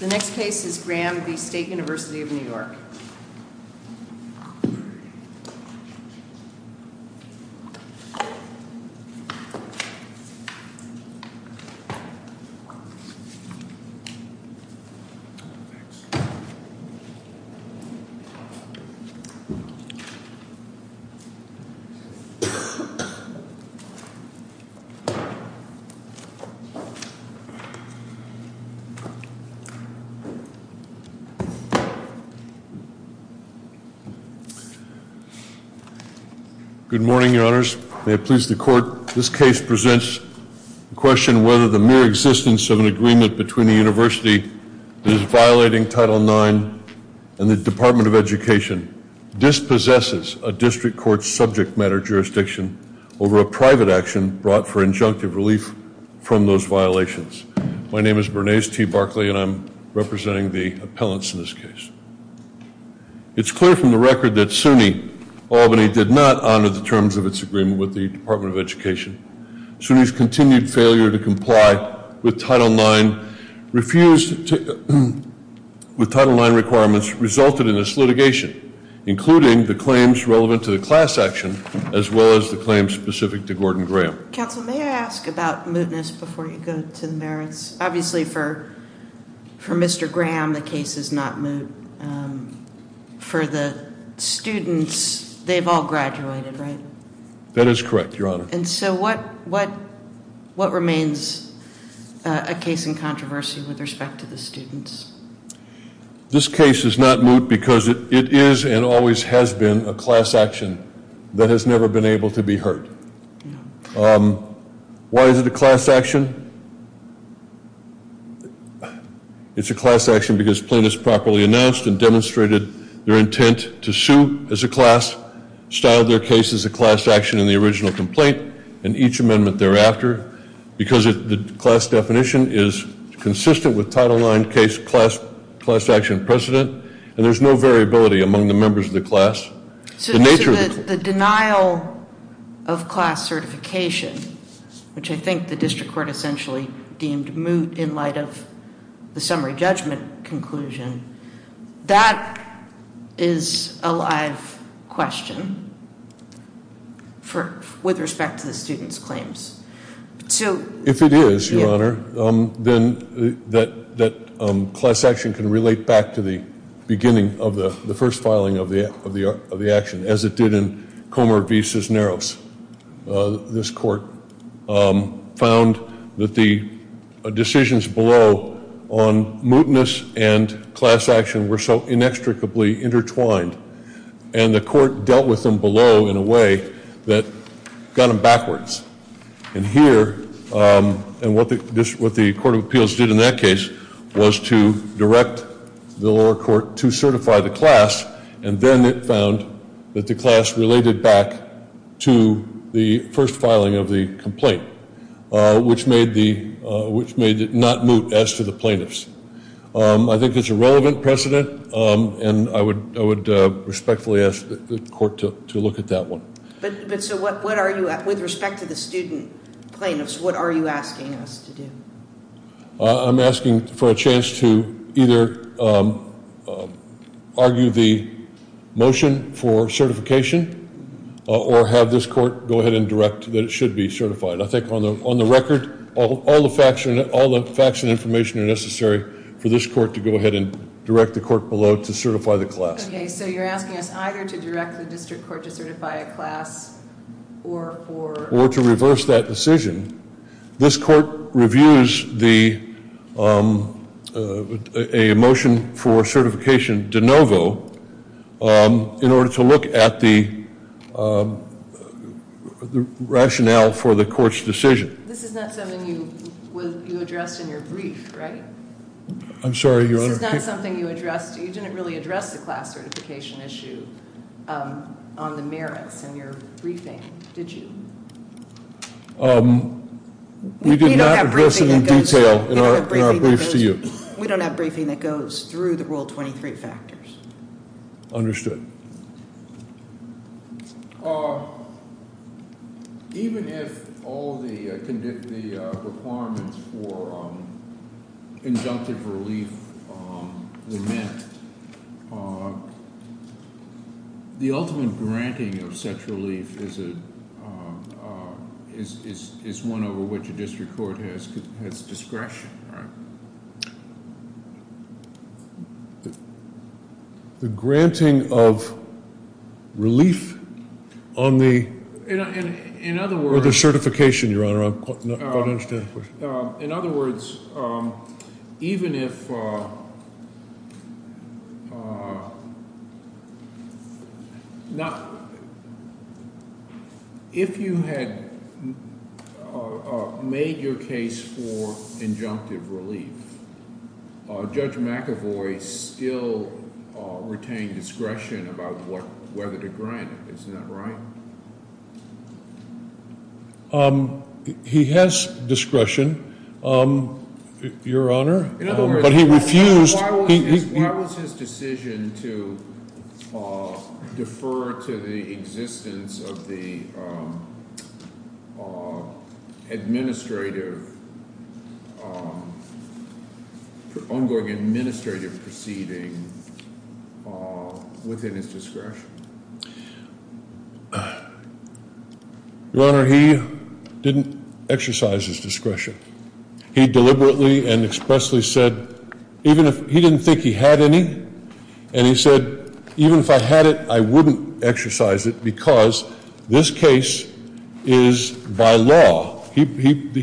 The next case is Graham v. State University of New York. Good morning, your honors. May it please the court, this case presents the question whether the mere existence of an agreement between a university that is violating Title IX and the Department of Education dispossesses a district court's subject matter jurisdiction over a private action brought for injunctive relief from those violations. My name is Bernays T. Barkley and I'm representing the appellants in this case. It's clear from the record that SUNY Albany did not honor the terms of its agreement with the Department of Education. SUNY's continued failure to comply with Title IX requirements resulted in this litigation, including the claims relevant to the class action as well as the claims specific to Gordon Graham. Counsel, may I ask about mootness before you go to the merits? Obviously for Mr. Graham, the case is not moot. For the students, they've all graduated, right? That is correct, your honor. And so what remains a case in controversy with respect to the students? This case is not moot because it is and always has been a class action that has never been able to be heard. Why is it a class action? It's a class action because plaintiffs properly announced and demonstrated their intent to sue as a class, styled their case as a class action in the original complaint and each amendment thereafter because the class definition is consistent with Title IX case class action precedent and there's no variability among the members of the class. So the denial of class certification, which I think the district court essentially deemed moot in light of the summary judgment conclusion, that is a live question with respect to the students' claims. If it is, your honor, then that class action can relate back to the beginning of the first of the action as it did in Comer v. Cisneros. This court found that the decisions below on mootness and class action were so inextricably intertwined and the court dealt with them below in a way that got them backwards. And here, and what the Court of Appeals did in that case was to direct the lower court to certify the class and then it found that the class related back to the first filing of the complaint, which made it not moot as to the plaintiffs. I think it's a relevant precedent and I would respectfully ask the court to look at that one. But so what are you, with respect to the student plaintiffs, what are you asking us to do? I'm asking for a chance to either argue the motion for certification or have this court go ahead and direct that it should be certified. I think on the record, all the facts and information are necessary for this court to go ahead and direct the court below to certify the class. Okay, so you're asking us either to direct the district court to certify a class or for Or to reverse that decision. This court reviews a motion for certification de novo in order to look at the rationale for the court's decision. This is not something you addressed in your brief, right? I'm sorry, Your Honor. This is not something you addressed. You didn't really address the class certification issue on the merits in your briefing, did you? We did not address it in detail in our briefs to you. We don't have briefing that goes through the Rule 23 factors. Understood. Even if all the requirements for injunctive relief were met, the ultimate granting of such relief is one over which a district court has discretion, right? The granting of relief on the... In other words... Or the certification, Your Honor. I don't understand the question. In other words, even if... If you had made your case for injunctive relief, Judge McAvoy still retained discretion about whether to grant it. Isn't that right? He has discretion, Your Honor. In other words, why was his decision to defer to the existence of the administrative, ongoing Your Honor, he didn't exercise his discretion. He deliberately and expressly said... He didn't think he had any. And he said, even if I had it, I wouldn't exercise it because this case is by law. He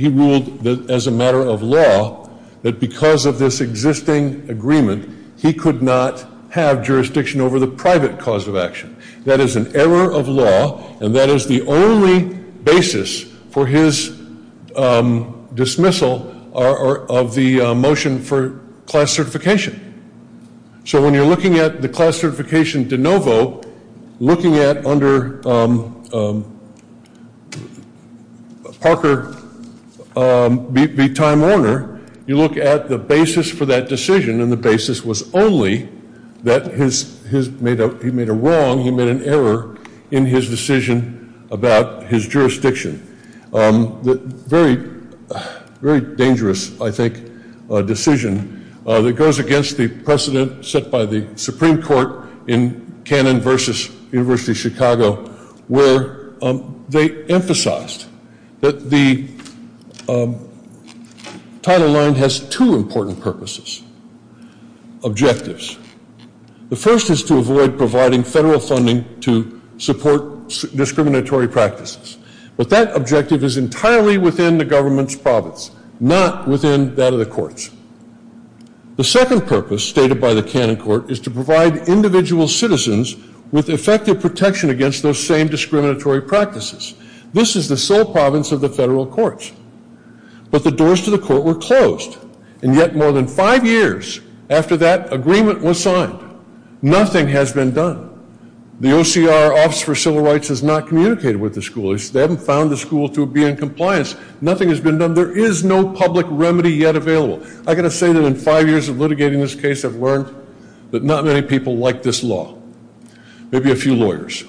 ruled that as a matter of law, that because of this existing agreement, he could not have jurisdiction over the private cause of action. That is an error of law. And that is the only basis for his dismissal of the motion for class certification. So when you're looking at the class certification de novo, looking at under Parker v. Time Warner, you look at the basis for that decision. And the basis was only that he made a wrong, he made an error in his decision about his jurisdiction. Very dangerous, I think, decision that goes against the precedent set by the Supreme Court in Cannon v. University of Chicago, where they emphasized that the Title IX has two important purposes, objectives. The first is to avoid providing federal funding to support discriminatory practices. But that objective is entirely within the government's province, not within that of the courts. The second purpose stated by the Cannon court is to provide individual citizens with effective protection against those same discriminatory practices. This is the sole province of the federal courts. But the doors to the court were closed. And yet more than five years after that agreement was signed, nothing has been done. The OCR, Office for Civil Rights, has not communicated with the school. They haven't found the school to be in compliance. Nothing has been done. There is no public remedy yet available. I've got to say that in five years of litigating this case, I've learned that not many people like this law. Maybe a few lawyers.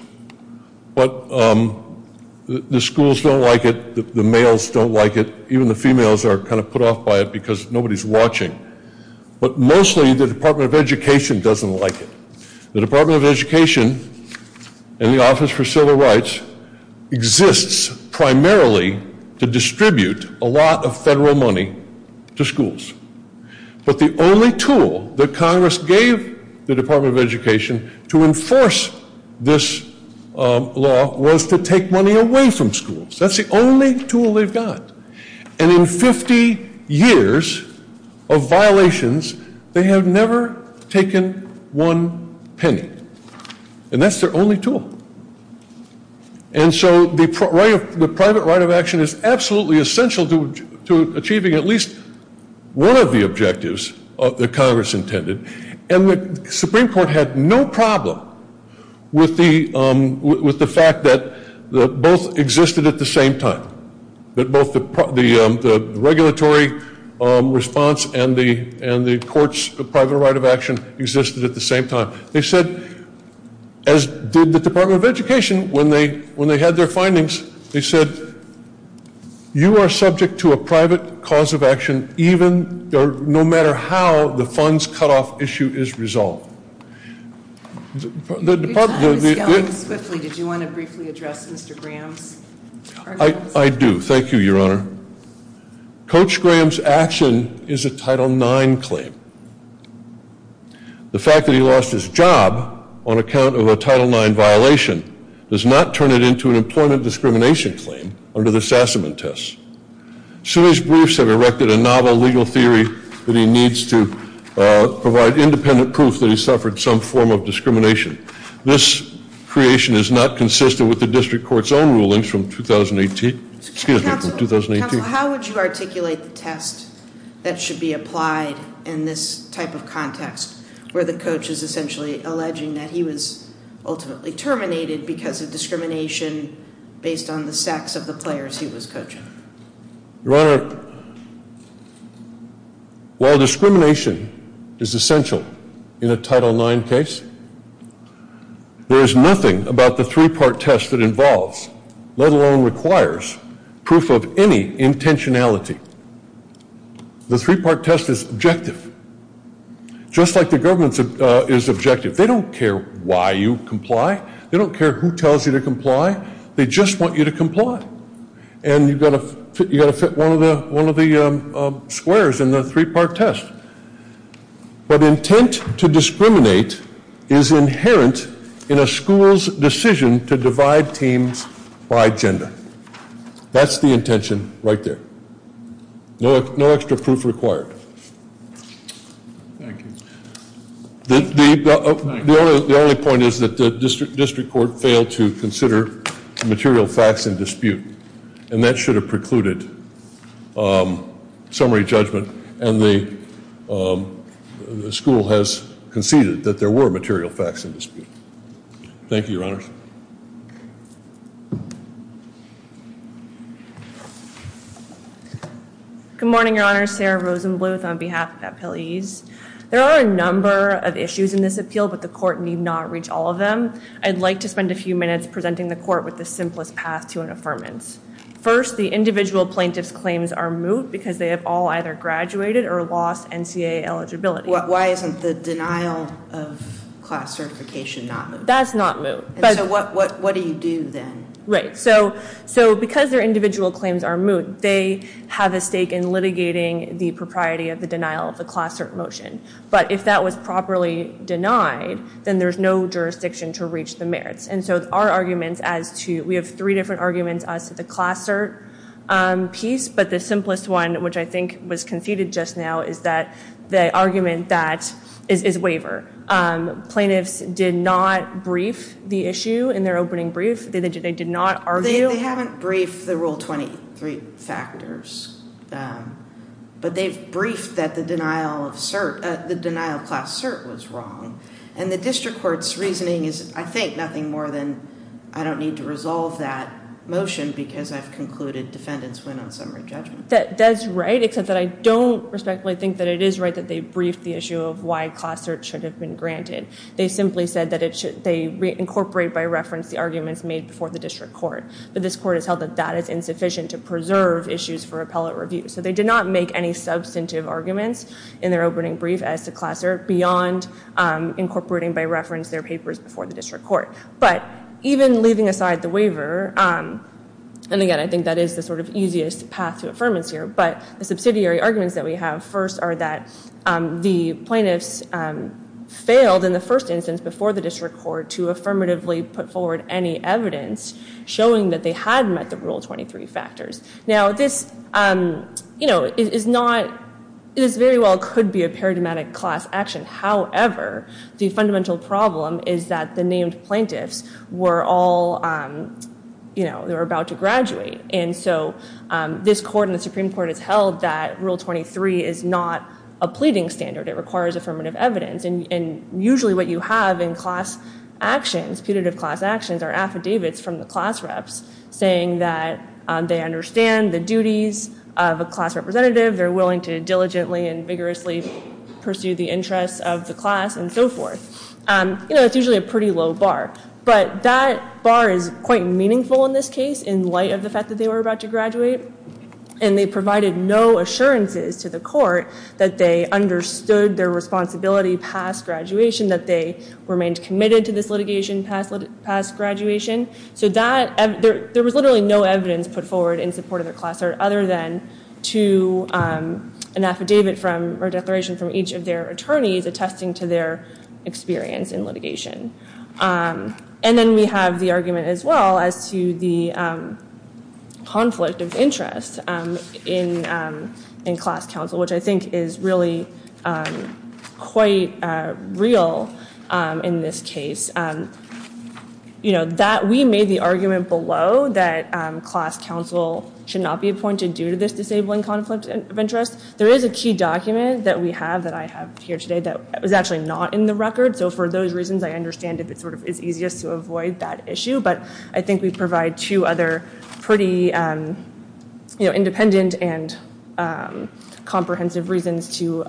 But the schools don't like it. The males don't like it. Even the females are kind of put off by it because nobody's watching. But mostly the Department of Education doesn't like it. The Department of Education and the Office for Civil Rights exists primarily to distribute a lot of federal money to schools. But the only tool that Congress gave the Department of Education to enforce this law was to take money away from schools. That's the only tool they've got. And in 50 years of violations, they have never taken one penny. And that's their only tool. And so the private right of action is absolutely essential to achieving at least one of the objectives that Congress intended. And the Supreme Court had no problem with the fact that both existed at the same time. That both the regulatory response and the court's private right of action existed at the same time. They said, as did the Department of Education, when they had their findings, they said, you are subject to a private cause of action no matter how the funds cutoff issue is resolved. Your time is going swiftly. Did you want to briefly address Mr. Graham's arguments? I do. Thank you, Your Honor. Coach Graham's action is a Title IX claim. The fact that he lost his job on account of a Title IX violation does not turn it into an employment discrimination claim under the Sassaman test. Suey's briefs have erected a novel legal theory that he needs to provide independent proof that he suffered some form of discrimination. This creation is not consistent with the district court's own rulings from 2018. Excuse me, from 2018. Counsel, how would you articulate the test that should be applied in this type of context, where the coach is essentially alleging that he was ultimately terminated because of discrimination based on the sex of the players he was coaching? Your Honor, while discrimination is essential in a Title IX case, there is nothing about the three-part test that involves, let alone requires, proof of any intentionality. The three-part test is objective, just like the government is objective. They don't care why you comply. They don't care who tells you to comply. They just want you to comply. And you've got to fit one of the squares in the three-part test. But intent to discriminate is inherent in a school's decision to divide teams by gender. That's the intention right there. No extra proof required. Thank you. The only point is that the district court failed to consider the material facts in dispute. And that should have precluded summary judgment. And the school has conceded that there were material facts in dispute. Thank you, Your Honor. Good morning, Your Honor. Sarah Rosenbluth on behalf of the appellees. There are a number of issues in this appeal, but the court need not reach all of them. I'd like to spend a few minutes presenting the court with the simplest path to an affirmance. First, the individual plaintiff's claims are moot because they have all either graduated or lost NCAA eligibility. Why isn't the denial of class certification not moot? That's not moot. So what do you do then? Right. So because their individual claims are moot, they have a stake in litigating the propriety of the denial of the class cert motion. But if that was properly denied, then there's no jurisdiction to reach the merits. And so our arguments as to, we have three different arguments as to the class cert piece. But the simplest one, which I think was conceded just now, is that the argument that, is waiver. Plaintiffs did not brief the issue in their opening brief. They did not argue. They haven't briefed the Rule 23 factors. But they've briefed that the denial of cert, the denial of class cert was wrong. And the district court's reasoning is, I think, nothing more than, I don't need to resolve that motion because I've concluded defendants win on summary judgment. That's right, except that I don't respectfully think that it is right that they briefed the issue of why class cert should have been granted. They simply said that they incorporate by reference the arguments made before the district court. But this court has held that that is insufficient to preserve issues for appellate review. So they did not make any substantive arguments in their opening brief as to class cert beyond incorporating by reference their papers before the district court. But even leaving aside the waiver, and again, I think that is the sort of easiest path to affirmance here. But the subsidiary arguments that we have first are that the plaintiffs failed in the first instance before the district court to affirmatively put forward any evidence showing that they had met the Rule 23 factors. Now, this very well could be a paradigmatic class action. However, the fundamental problem is that the named plaintiffs were all about to graduate. And so this court and the Supreme Court has held that Rule 23 is not a pleading standard. It requires affirmative evidence. And usually what you have in class actions, putative class actions, are affidavits from the class reps saying that they understand the duties of a class representative. They're willing to diligently and vigorously pursue the interests of the class and so forth. You know, it's usually a pretty low bar. But that bar is quite meaningful in this case in light of the fact that they were about to graduate. And they provided no assurances to the court that they understood their responsibility past graduation, that they remained committed to this litigation past graduation. So there was literally no evidence put forward in support of their class other than to an affidavit or declaration from each of their attorneys attesting to their experience in litigation. And then we have the argument as well as to the conflict of interest in class counsel, which I think is really quite real in this case. You know, we made the argument below that class counsel should not be appointed due to this disabling conflict of interest. There is a key document that we have that I have here today that was actually not in the record. So for those reasons, I understand if it sort of is easiest to avoid that issue. But I think we provide two other pretty independent and comprehensive reasons to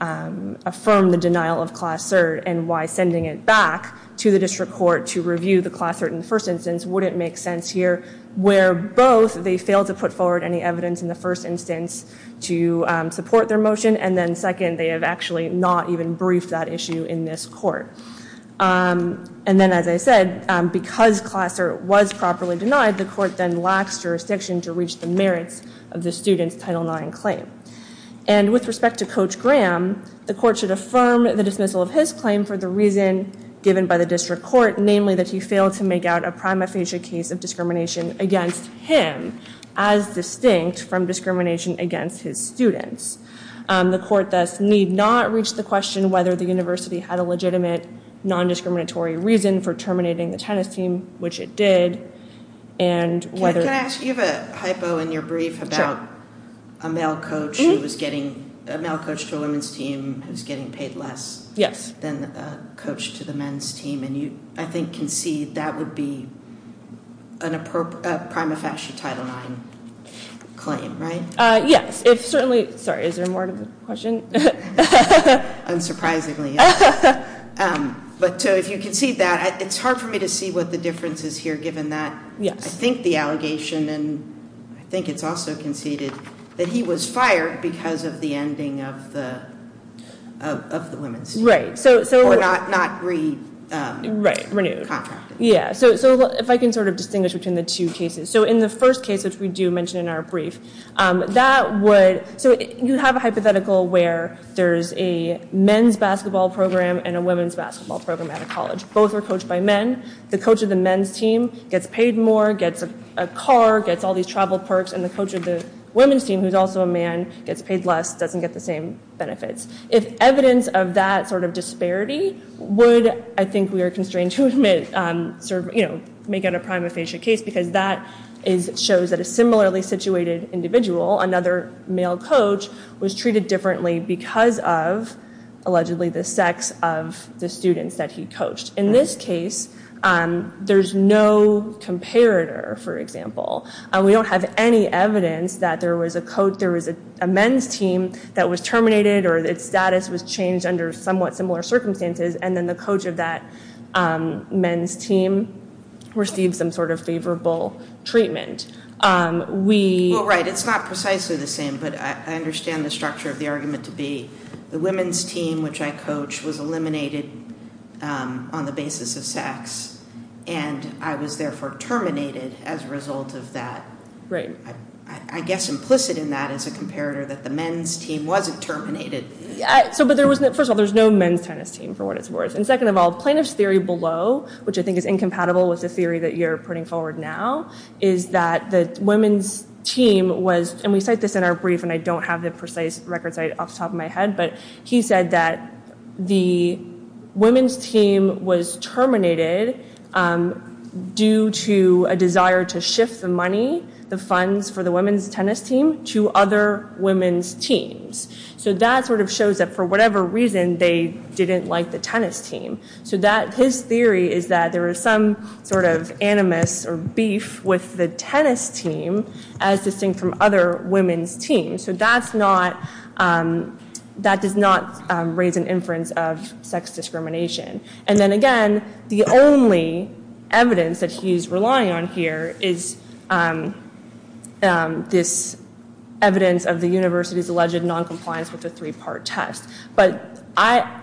affirm the denial of class cert and why sending it back to the district court to review the class cert in the first instance wouldn't make sense here. Where both they failed to put forward any evidence in the first instance to support their motion. And then second, they have actually not even briefed that issue in this court. And then as I said, because class cert was properly denied, the court then lacks jurisdiction to reach the merits of the student's Title IX claim. And with respect to Coach Graham, the court should affirm the dismissal of his claim for the reason given by the district court, namely that he failed to make out a prima facie case of discrimination against him as distinct from discrimination against his students. The court thus need not reach the question whether the university had a legitimate non-discriminatory reason for terminating the tennis team, which it did. And whether- Can I ask, you have a hypo in your brief about a male coach who was getting, a male coach to a women's team who's getting paid less than a coach to the men's team. And you, I think, concede that would be a prima facie Title IX claim, right? Yes. If certainly, sorry, is there more to the question? Unsurprisingly, yes. But if you concede that, it's hard for me to see what the difference is here, given that I think the allegation, and I think it's also conceded, that he was fired because of the ending of the women's team. Right, so- Or not re- Right, renewed. Contracted. Yeah, so if I can sort of distinguish between the two cases. So in the first case, which we do mention in our brief, that would, so you have a hypothetical where there's a men's basketball program and a women's basketball program at a college. Both are coached by men. The coach of the men's team gets paid more, gets a car, gets all these travel perks, and the coach of the women's team, who's also a man, gets paid less, doesn't get the same benefits. If evidence of that sort of disparity would, I think we are constrained to make it a prima facie case, because that shows that a similarly situated individual, another male coach, was treated differently because of, allegedly, the sex of the students that he coached. In this case, there's no comparator, for example. We don't have any evidence that there was a men's team that was terminated or its status was changed under somewhat similar circumstances, and then the coach of that men's team received some sort of favorable treatment. Well, right, it's not precisely the same, but I understand the structure of the argument to be the women's team, which I coached, was eliminated on the basis of sex, and I was therefore terminated as a result of that. Right. I guess implicit in that is a comparator that the men's team wasn't terminated. First of all, there's no men's tennis team, for what it's worth. And second of all, plaintiff's theory below, which I think is incompatible with the theory that you're putting forward now, is that the women's team was, and we cite this in our brief, and I don't have the precise record site off the top of my head, but he said that the women's team was terminated due to a desire to shift the money, the funds for the women's tennis team, to other women's teams. So that sort of shows that for whatever reason, they didn't like the tennis team. So his theory is that there was some sort of animus or beef with the tennis team, as distinct from other women's teams. So that does not raise an inference of sex discrimination. And then again, the only evidence that he's relying on here is this evidence of the university's alleged noncompliance with the three-part test. But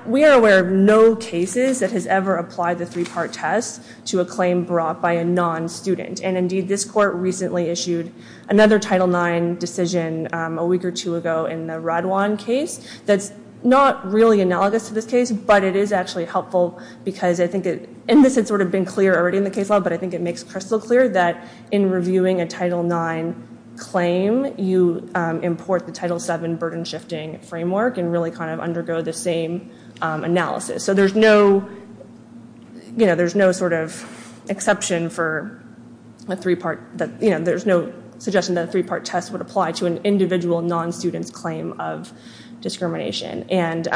we are aware of no cases that has ever applied the three-part test to a claim brought by a non-student. And indeed, this court recently issued another Title IX decision a week or two ago in the Radwan case. That's not really analogous to this case, but it is actually helpful because I think it, and this had sort of been clear already in the case law, but I think it makes crystal clear that in reviewing a Title IX claim, you import the Title VII burden-shifting framework and really kind of undergo the same analysis. So there's no, you know, there's no sort of exception for a three-part, you know, there's no suggestion that a three-part test would apply to an individual non-student's claim of discrimination. And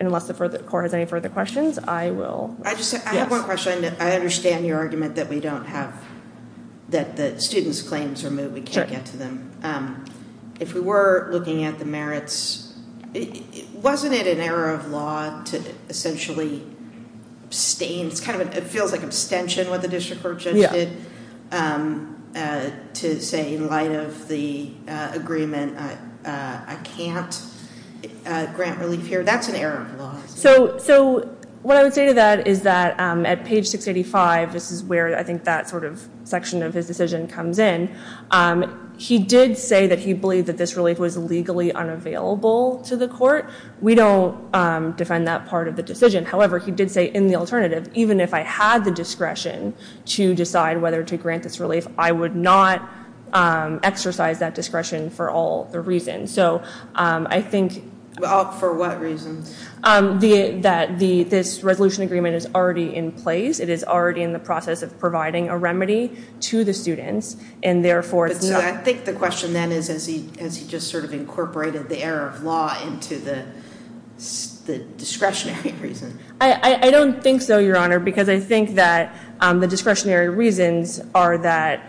unless the court has any further questions, I will. I just have one question. I understand your argument that we don't have, that the student's claims are moved, we can't get to them. If we were looking at the merits, wasn't it an error of law to essentially abstain? It's kind of, it feels like abstention, what the district court judge did, to say in light of the agreement, I can't grant relief here. That's an error of law. So what I would say to that is that at page 685, this is where I think that sort of section of his decision comes in, he did say that he believed that this relief was legally unavailable to the court. We don't defend that part of the decision. However, he did say in the alternative, even if I had the discretion to decide whether to grant this relief, I would not exercise that discretion for all the reasons. For what reasons? That this resolution agreement is already in place. It is already in the process of providing a remedy to the students. So I think the question then is, has he just sort of incorporated the error of law into the discretionary reason? I don't think so, Your Honor, because I think that the discretionary reasons are that,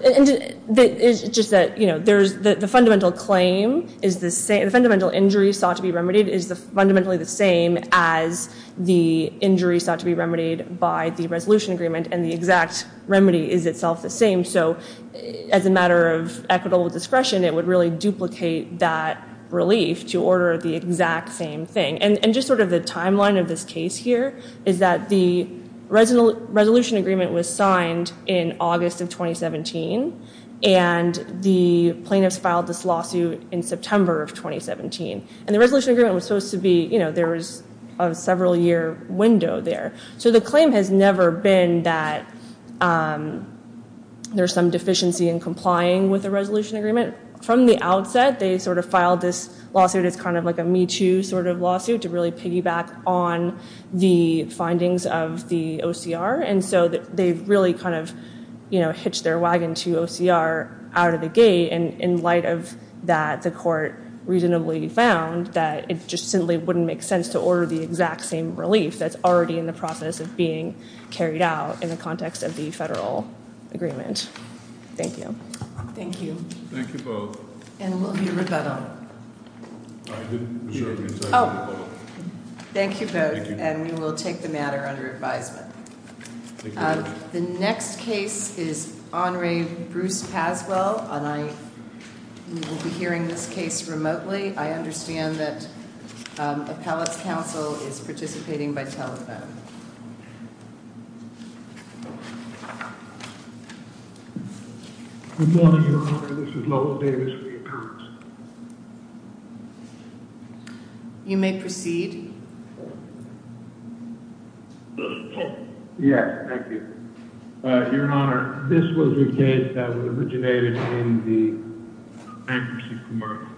it's just that, you know, the fundamental claim is the same, the fundamental injury sought to be remedied is fundamentally the same as the injury sought to be remedied by the resolution agreement and the exact remedy is itself the same. So as a matter of equitable discretion, it would really duplicate that relief to order the exact same thing. And just sort of the timeline of this case here is that the resolution agreement was signed in August of 2017 and the plaintiffs filed this lawsuit in September of 2017. And the resolution agreement was supposed to be, you know, there was a several year window there. So the claim has never been that there's some deficiency in complying with the resolution agreement. From the outset, they sort of filed this lawsuit as kind of like a Me Too sort of lawsuit to really piggyback on the findings of the OCR. And so they've really kind of, you know, hitched their wagon to OCR out of the gate. And in light of that, the court reasonably found that it just simply wouldn't make sense to order the exact same relief that's already in the process of being carried out in the context of the federal agreement. Thank you. Thank you. Thank you both. And we'll hear rebuttal. I didn't hear rebuttal. Thank you both. And we will take the matter under advisement. The next case is Honore Bruce Paswell. And I will be hearing this case remotely. I understand that Appellate's counsel is participating by telephone. Good morning, Your Honor. This is Lowell Davis for the appearance. You may proceed. Yes. Thank you. Your Honor, this was a case that was originated in the bankruptcy commerce.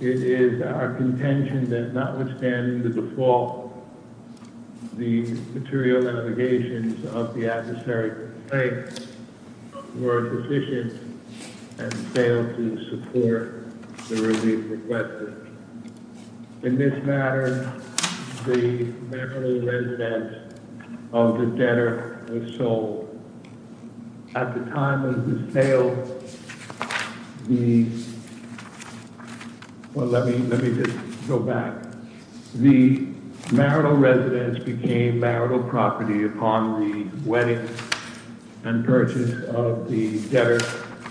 It is our contention that notwithstanding the default, the material allegations of the adversary were deficient and failed to support the relief requested. In this matter, the marital residence of the debtor was sold. At the time of the sale, the—well, let me just go back. The marital residence became marital property upon the wedding and purchase of the debtor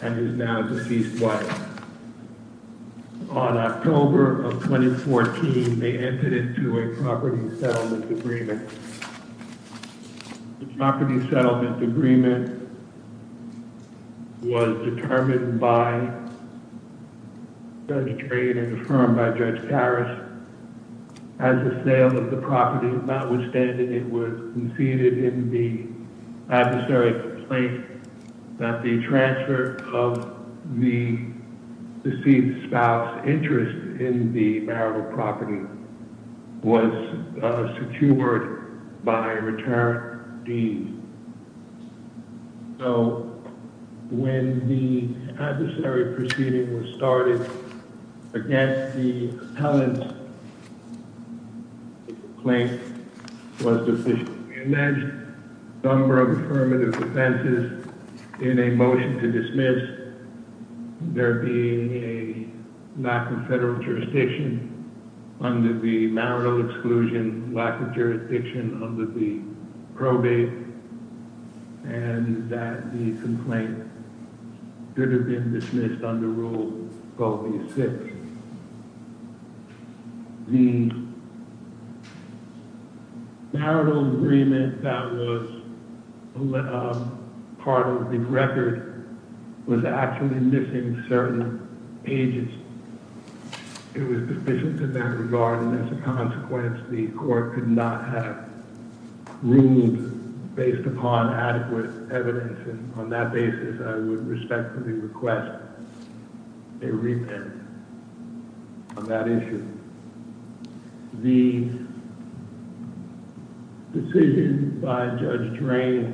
and his now-deceased wife. On October of 2014, they entered into a property settlement agreement. The property settlement agreement was determined by Judge Trey and confirmed by Judge Harris. At the sale of the property, notwithstanding, it was conceded in the adversary's complaint that the transfer of the deceased spouse's interest in the marital property was secured by return deems. So, when the adversary proceeding was started against the appellant, the complaint was deficient. We alleged a number of affirmative offenses in a motion to dismiss, there being a lack of federal jurisdiction under the marital exclusion, lack of jurisdiction under the probate, and that the complaint could have been dismissed under Rule 6. The marital agreement that was part of the record was actually missing certain pages. It was deficient in that regard, and as a consequence, the court could not have ruled based upon adequate evidence. And on that basis, I would respectfully request a repentance on that issue. The decision by Judge Trey,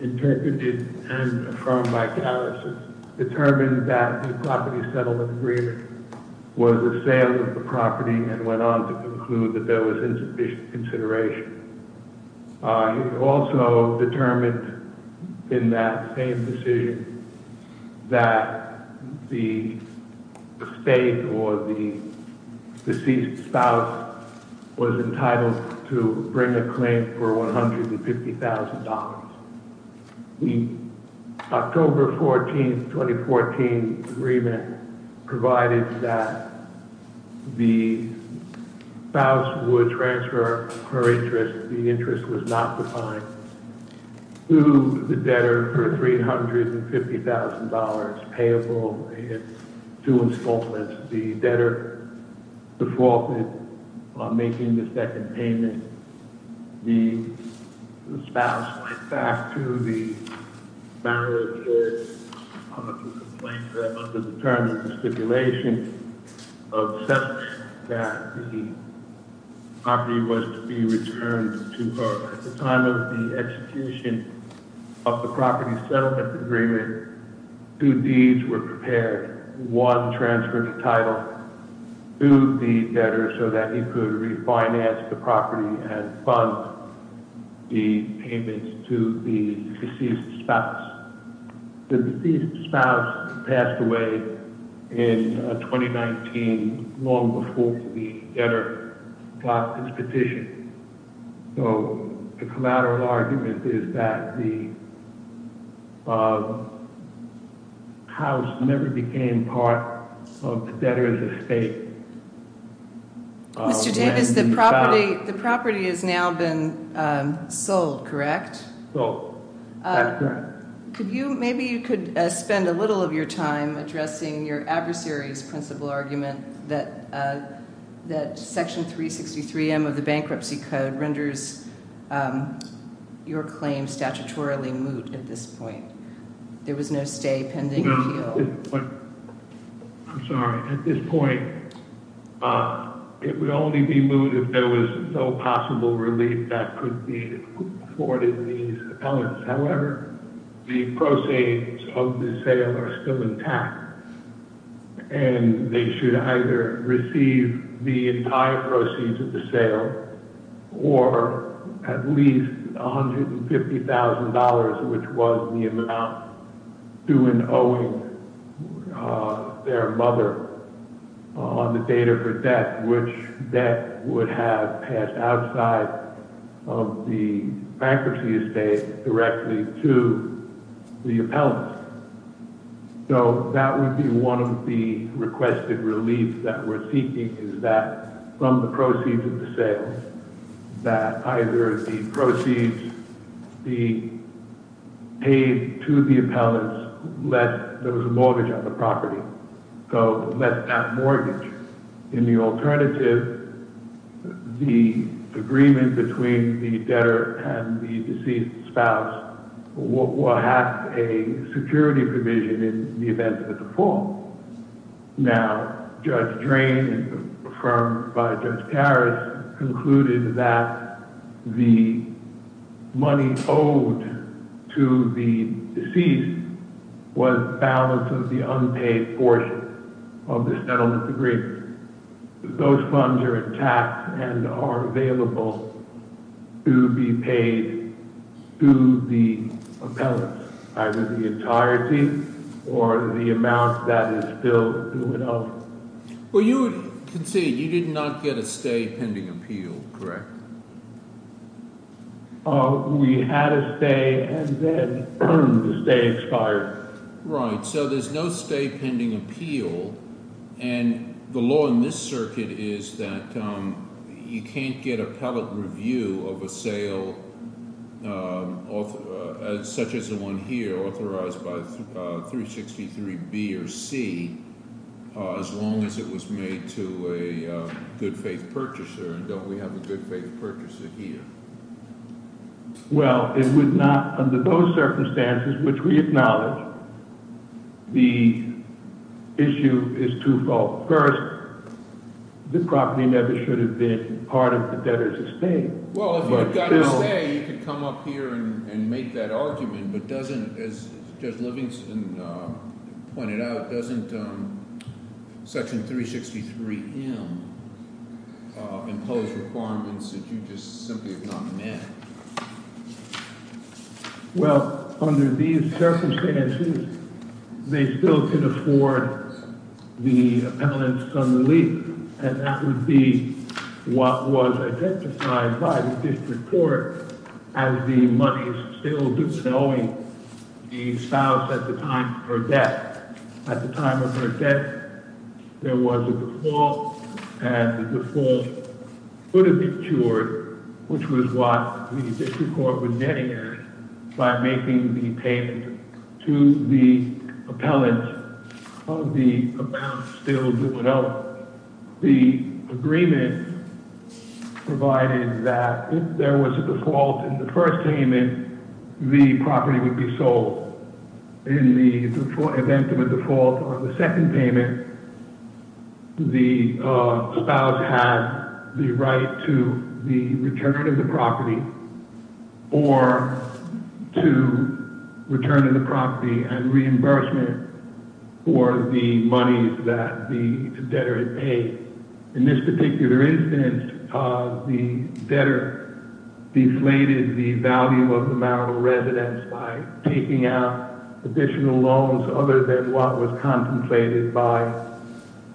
interpreted and affirmed by Harris, determined that the property settlement agreement was a sale of the property and went on to conclude that there was insufficient consideration. He also determined in that same decision that the state or the deceased spouse was entitled to bring a claim for $150,000. The October 14, 2014 agreement provided that the spouse would transfer her interest, the interest was not defined, to the debtor for $350,000, payable in two installments. As the debtor defaulted on making the second payment, the spouse went back to the marital judge to complain to her under the terms of the stipulation of settlement that the property was to be returned to her. At the time of the execution of the property settlement agreement, two deeds were prepared. One, transfer the title to the debtor so that he could refinance the property and fund the payments to the deceased spouse. The deceased spouse passed away in 2019, long before the debtor got his petition. The collateral argument is that the house never became part of the debtor's estate. Mr. Davis, the property has now been sold, correct? Sold, that's correct. Maybe you could spend a little of your time addressing your adversary's principle argument that Section 363M of the Bankruptcy Code renders your claim statutorily moot at this point. There was no stay pending appeal. I'm sorry. At this point, it would only be moot if there was no possible relief that could be afforded to these appellants. Their mother on the date of her death, which debt would have passed outside of the bankruptcy estate directly to the appellant. That would be one of the requested relief that we're seeking, is that from the proceeds of the sale, that either the proceeds be paid to the appellant, let there was a mortgage on the property. In the alternative, the agreement between the debtor and the deceased spouse will have a security provision in the event of a default. Now, Judge Drain, affirmed by Judge Harris, concluded that the money owed to the deceased was the balance of the unpaid portion of the settlement agreement. Those funds are intact and are available to be paid to the appellant, either the entirety or the amount that is still due it up. We had a stay and then the stay expired. Right. So there's no stay pending appeal. And the law in this circuit is that you can't get appellate review of a sale, such as the one here, authorized by 363B or C, as long as it was made to a good faith purchaser. And don't we have a good faith purchaser here? Well, it would not, under those circumstances, which we acknowledge, the issue is twofold. First, the property never should have been part of the debtor's estate. Well, if you had got a stay, you could come up here and make that argument. But doesn't, as Judge Livingston pointed out, doesn't Section 363M impose requirements that you just simply have not met? Well, under these circumstances, they still could afford the appellant's unrelief, and that would be what was identified by the district court as the money still due to the spouse at the time of her death. At the time of her death, there was a default, and the default would have been cured, which was what the district court would netted by making the payment to the appellant of the amount still due at all. But the agreement provided that if there was a default in the first payment, the property would be sold. In the event of a default on the second payment, the spouse had the right to the return of the property or to return of the property and reimbursement for the money that the debtor had paid. In this particular instance, the debtor deflated the value of the marital residence by taking out additional loans other than what was contemplated by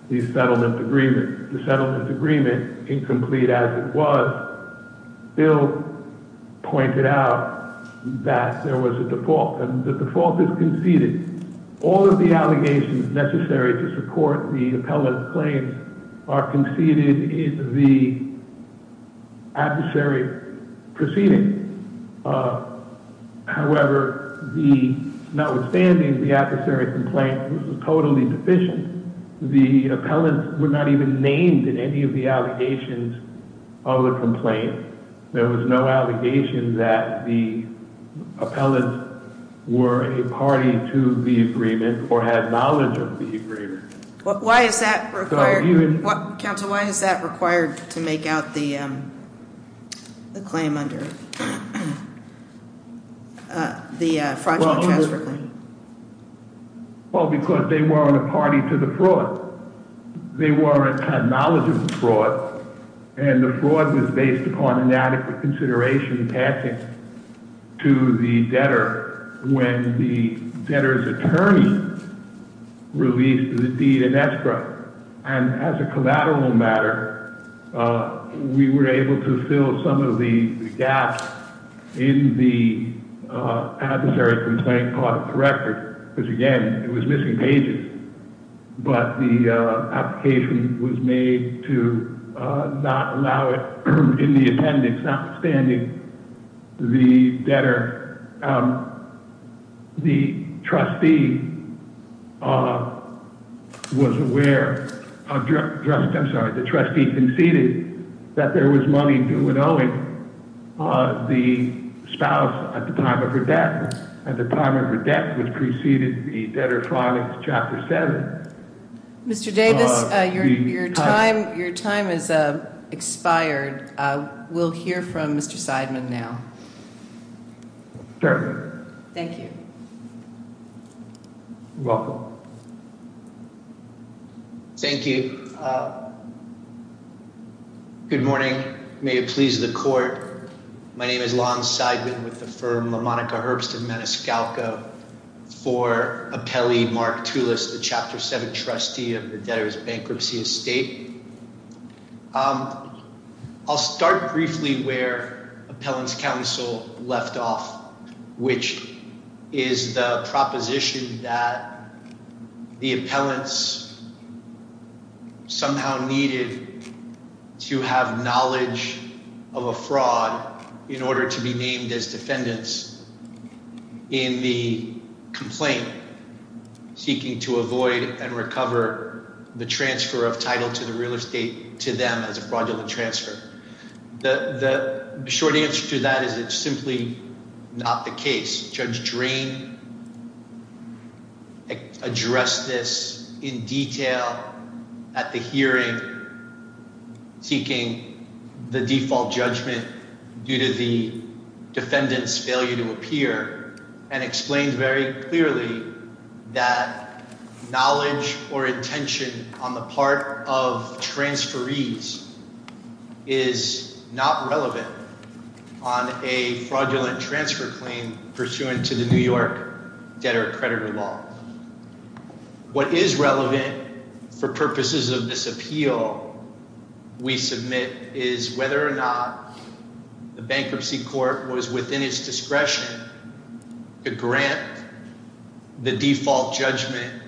the settlement agreement. The settlement agreement, incomplete as it was, Bill pointed out that there was a default, and the default is conceded. All of the allegations necessary to support the appellant's claims are conceded in the adversary proceeding. However, notwithstanding the adversary complaint, which was totally deficient, the appellants were not even named in any of the allegations of the complaint. There was no allegation that the appellants were a party to the agreement or had knowledge of the agreement. Why is that required? Counsel, why is that required to make out the claim under the fraudulent transfer claim? Well, because they weren't a party to the fraud. They weren't – had knowledge of the fraud, and the fraud was based upon inadequate consideration and tactics to the debtor when the debtor's attorney released the deed in extra. And as a collateral matter, we were able to fill some of the gaps in the adversary complaint part of the record because, again, it was missing pages. But the application was made to not allow it in the attendance, notwithstanding the debtor. The trustee was aware – I'm sorry, the trustee conceded that there was money due in Owing, the spouse, at the time of her death. At the time of her death, which preceded the debtor filing Chapter 7. Mr. Davis, your time has expired. We'll hear from Mr. Seidman now. Certainly. Thank you. You're welcome. Thank you. Good morning. May it please the Court, my name is Lon Seidman with the firm LaMonica Herbst & Menescalco for appellee Mark Tulis, the Chapter 7 trustee of the debtor's bankruptcy estate. I'll start briefly where appellant's counsel left off, which is the proposition that the appellants somehow needed to have knowledge of a fraud in order to be named as defendants. In the complaint, seeking to avoid and recover the transfer of title to the real estate to them as a fraudulent transfer. The short answer to that is it's simply not the case. It is not relevant on a fraudulent transfer claim pursuant to the New York debtor-accreditor law. What is relevant for purposes of this appeal, we submit, is whether or not the bankruptcy court was within its discretion to grant the default judgment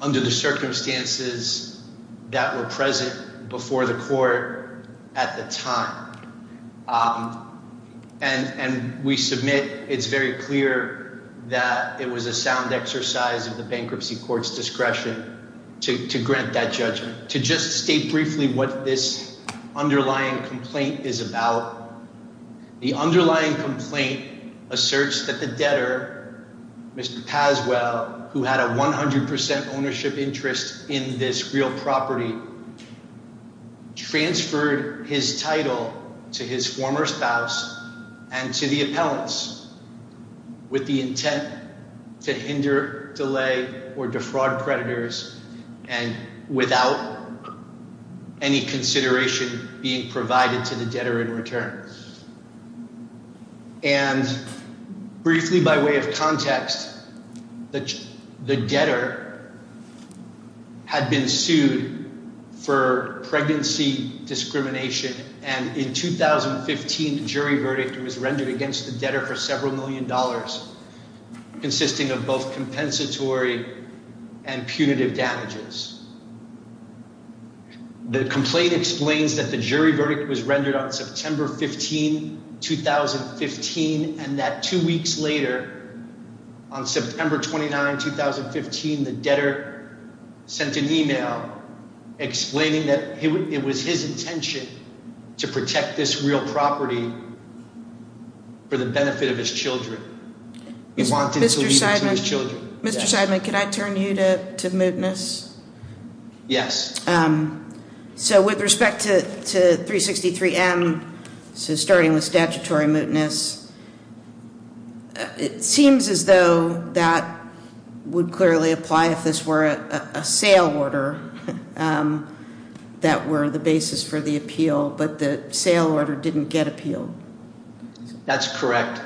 under the circumstances that were present before the court at the time. And we submit it's very clear that it was a sound exercise of the bankruptcy court's discretion to grant that judgment. To just state briefly what this underlying complaint is about, the underlying complaint asserts that the debtor, Mr. Paswell, who had a 100% ownership interest in this real property, transferred his title to his former spouse and to the appellants with the intent to hinder, delay, or defraud creditors and without any consideration being provided to the debtor in return. And briefly by way of context, the debtor had been sued for pregnancy discrimination and in 2015 the jury verdict was rendered against the debtor for several million dollars consisting of both compensatory and punitive damages. The complaint explains that the jury verdict was rendered on September 15, 2015 and that two weeks later, on September 29, 2015, the debtor sent an email explaining that it was his intention to protect this real property for the benefit of his children. He wanted to leave it to his children. Mr. Seidman, can I turn you to mootness? Yes. So with respect to 363M, so starting with statutory mootness, it seems as though that would clearly apply if this were a sale order that were the basis for the appeal, but the sale order didn't get appealed. That's correct.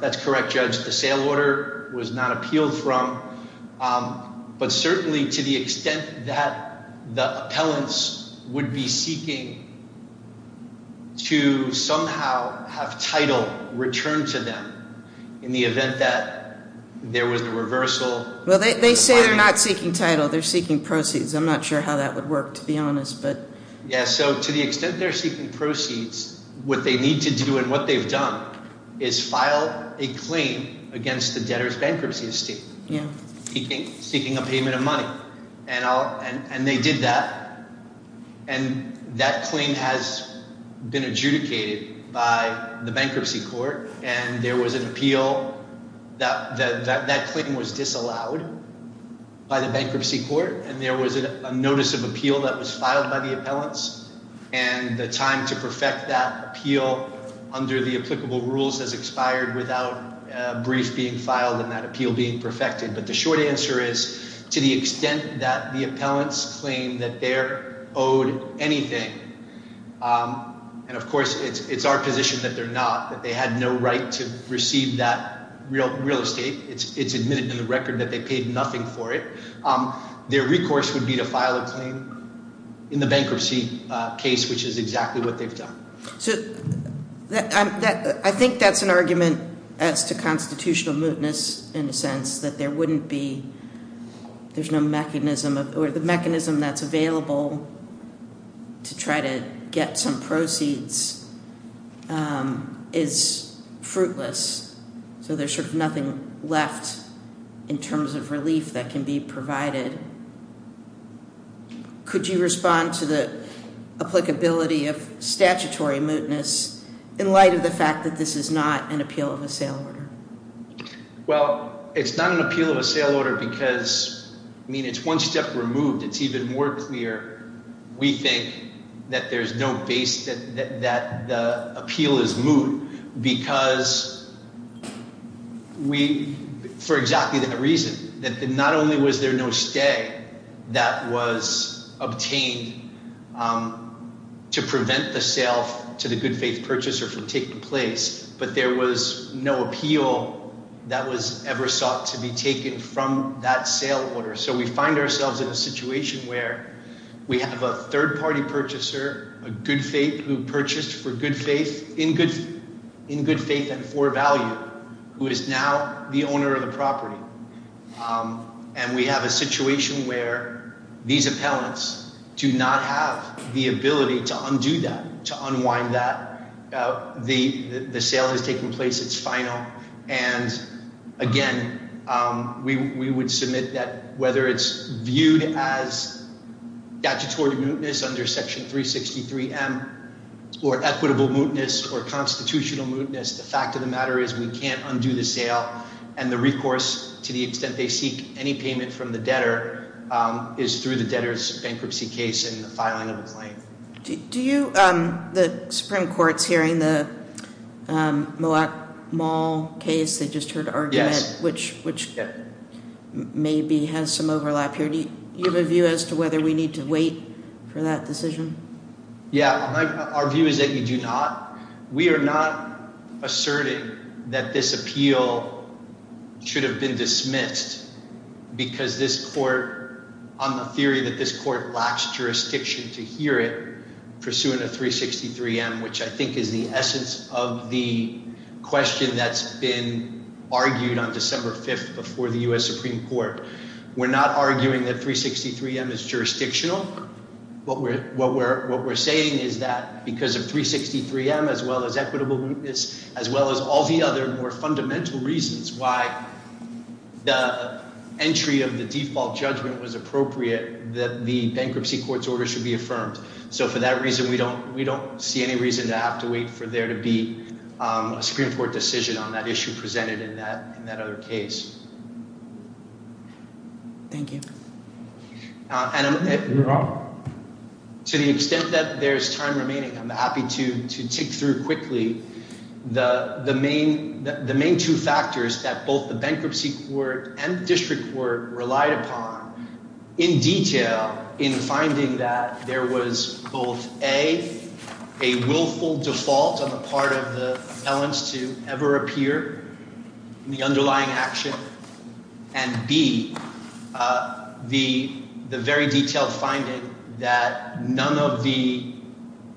That's correct, Judge. The sale order was not appealed from, but certainly to the extent that the appellants would be seeking to somehow have title returned to them in the event that there was a reversal. Well, they say they're not seeking title. They're seeking proceeds. I'm not sure how that would work, to be honest. Yeah, so to the extent they're seeking proceeds, what they need to do and what they've done is file a claim against the debtor's bankruptcy, seeking a payment of money. And they did that. And that claim has been adjudicated by the bankruptcy court, and there was an appeal. That claim was disallowed by the bankruptcy court, and there was a notice of appeal that was filed by the appellants, and the time to perfect that appeal under the applicable rules has expired without a brief being filed and that appeal being perfected. But the short answer is to the extent that the appellants claim that they're owed anything, and of course it's our position that they're not, that they had no right to receive that real estate. It's admitted in the record that they paid nothing for it. Their recourse would be to file a claim in the bankruptcy case, which is exactly what they've done. So I think that's an argument as to constitutional mootness in the sense that there wouldn't be, there's no mechanism, or the mechanism that's available to try to get some proceeds is fruitless. So there's sort of nothing left in terms of relief that can be provided. Could you respond to the applicability of statutory mootness in light of the fact that this is not an appeal of a sale order? Well, it's not an appeal of a sale order because, I mean, it's one step removed. It's even more clear, we think, that there's no base, that the appeal is moot because we, for exactly that reason, that not only was there no stay that was obtained to prevent the sale to the good faith purchaser from taking place, but there was no appeal that was ever sought to be taken from that sale order. So we find ourselves in a situation where we have a third party purchaser, a good faith who purchased for good faith, in good faith and for value, who is now the owner of the property. And we have a situation where these appellants do not have the ability to undo that, to unwind that. The sale has taken place. It's final. And, again, we would submit that whether it's viewed as statutory mootness under Section 363M or equitable mootness or constitutional mootness, the fact of the matter is we can't undo the sale. And the recourse, to the extent they seek any payment from the debtor, is through the debtor's bankruptcy case and the filing of a claim. Do you, the Supreme Court's hearing the Moak Mall case, they just heard an argument, which maybe has some overlap here. Do you have a view as to whether we need to wait for that decision? Yeah. Our view is that you do not. We are not asserting that this appeal should have been dismissed because this court, on the theory that this court lacks jurisdiction to hear it, pursuing a 363M, which I think is the essence of the question that's been argued on December 5th before the U.S. Supreme Court. We're not arguing that 363M is jurisdictional. What we're saying is that because of 363M, as well as equitable mootness, as well as all the other more fundamental reasons why the entry of the default judgment was appropriate, that the bankruptcy court's order should be affirmed. So for that reason, we don't see any reason to have to wait for there to be a Supreme Court decision on that issue presented in that other case. Thank you. To the extent that there's time remaining, I'm happy to tick through quickly the main two factors that both the bankruptcy court and the district court relied upon in detail in finding that there was both A, a willful default on the part of the appellants to ever appear in the underlying action, and B, the very detailed finding that none of the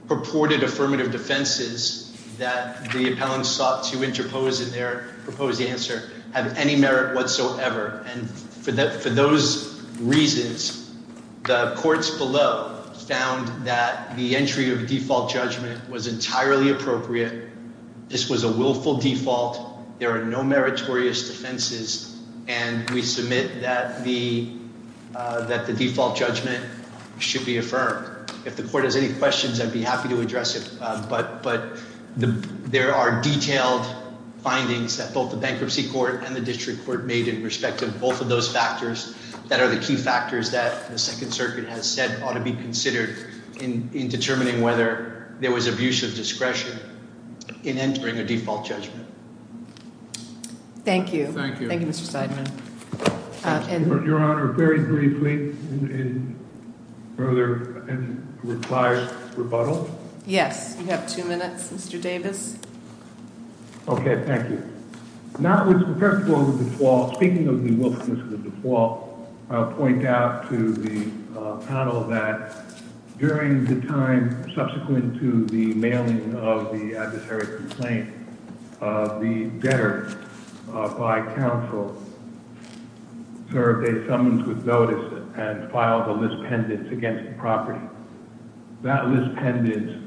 purported affirmative defenses that the appellants sought to interpose in their proposed answer have any merit whatsoever. And for those reasons, the courts below found that the entry of default judgment was entirely appropriate. This was a willful default. There are no meritorious defenses. And we submit that the default judgment should be affirmed. If the court has any questions, I'd be happy to address it. But there are detailed findings that both the bankruptcy court and the district court made in respect of both of those factors that are the key factors that the Second Circuit has said ought to be considered in determining whether there was abuse of discretion in entering a default judgment. Thank you. Thank you. Thank you, Mr. Seidman. Your Honor, very briefly in further and required rebuttal. Yes. You have two minutes, Mr. Davis. Okay. Thank you. First of all, speaking of the willfulness of default, I'll point out to the panel that during the time subsequent to the mailing of the adversary complaint, the debtor by counsel served a summons with notice and filed a list pendant against the property. That list pendant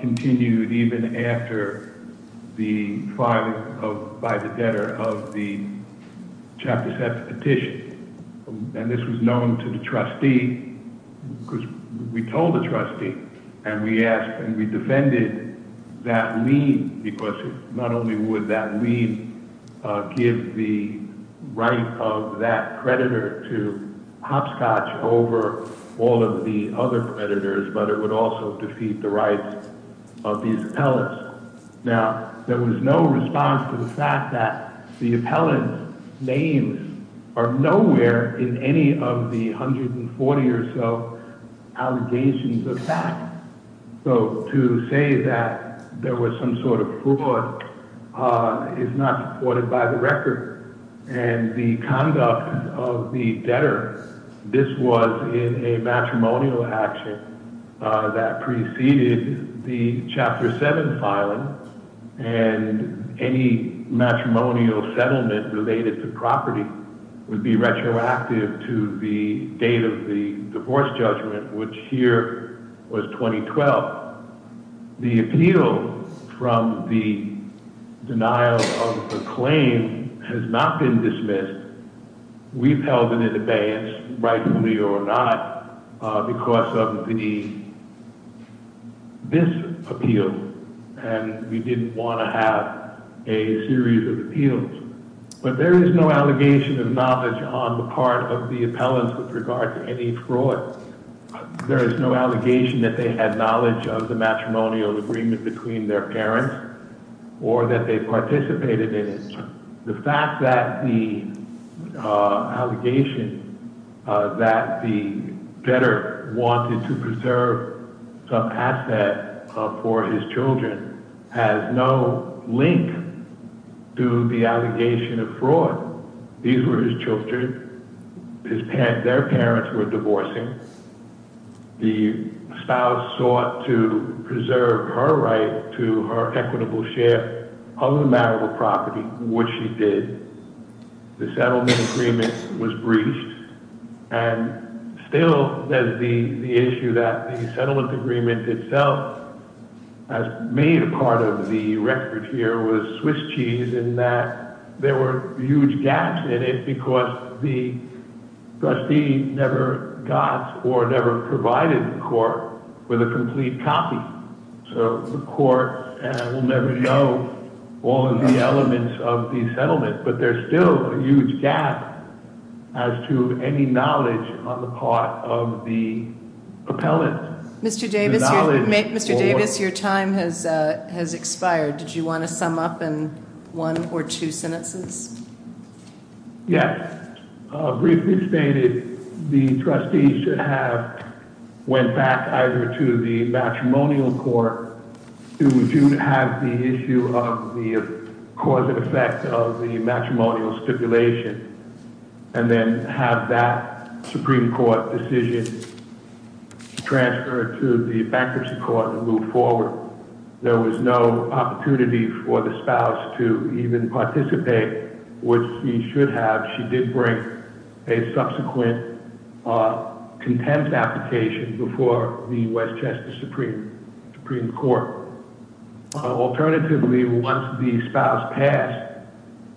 continued even after the filing by the debtor of the Chapter 7 petition. And this was known to the trustee because we told the trustee and we asked and we defended that lien because not only would that lien give the right of that predator to hopscotch over all of the other predators, but it would also defeat the rights of these appellants. Now, there was no response to the fact that the appellant's names are nowhere in any of the 140 or so allegations of fact. So to say that there was some sort of fraud is not supported by the record. And the conduct of the debtor, this was in a matrimonial action that preceded the Chapter 7 filing and any matrimonial settlement related to property would be retroactive to the date of the divorce judgment, which here was 2012. But the appeal from the denial of the claim has not been dismissed. We've held it in abeyance, rightfully or not, because of this appeal. And we didn't want to have a series of appeals. But there is no allegation of knowledge on the part of the appellants with regard to any fraud. There is no allegation that they had knowledge of the matrimonial agreement between their parents or that they participated in it. The fact that the allegation that the debtor wanted to preserve some asset for his children has no link to the allegation of fraud. These were his children. Their parents were divorcing. The spouse sought to preserve her right to her equitable share of the marital property, which she did. The settlement agreement was breached. And still there's the issue that the settlement agreement itself has made part of the record here with Swiss cheese in that there were huge gaps in it because the trustee never got or never provided the court with a complete copy. So the court will never know all of the elements of the settlement, but there's still a huge gap as to any knowledge on the part of the appellant. Mr. Davis, your time has expired. Did you want to sum up in one or two sentences? Yes. Briefly stated, the trustees should have went back either to the matrimonial court to have the issue of the cause and effect of the matrimonial stipulation. And then have that Supreme Court decision transferred to the bankruptcy court and move forward. There was no opportunity for the spouse to even participate, which she should have. She did bring a subsequent contempt application before the Westchester Supreme Court. Alternatively, once the spouse passed,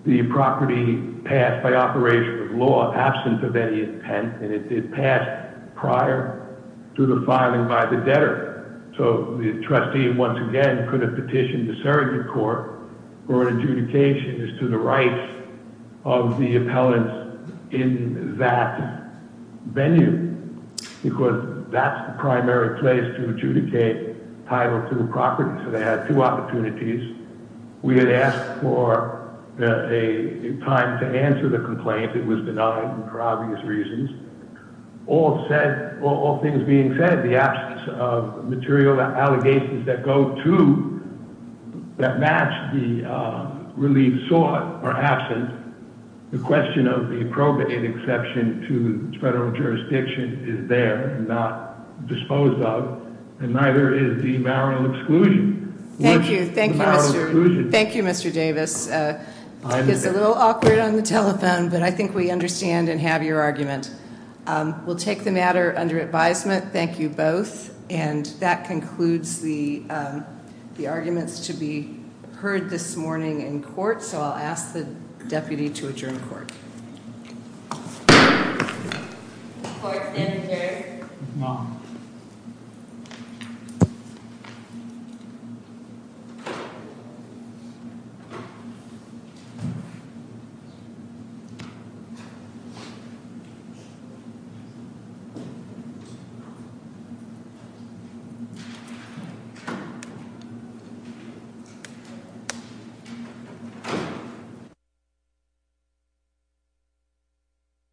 the property passed by operation of law, absent of any intent, and it did pass prior to the filing by the debtor. So the trustee, once again, could have petitioned the surrogate court for an adjudication as to the rights of the appellant in that venue. Because that's the primary place to adjudicate title to the property. So they had two opportunities. We had asked for a time to answer the complaint. It was denied for obvious reasons. All things being said, the absence of material allegations that match the relief sought are absent. The question of the appropriate exception to federal jurisdiction is there and not disposed of. And neither is the marital exclusion. Thank you, Mr. Davis. It's a little awkward on the telephone, but I think we understand and have your argument. We'll take the matter under advisement. Thank you, both. And that concludes the arguments to be heard this morning in court. So I'll ask the deputy to adjourn court. Thank you.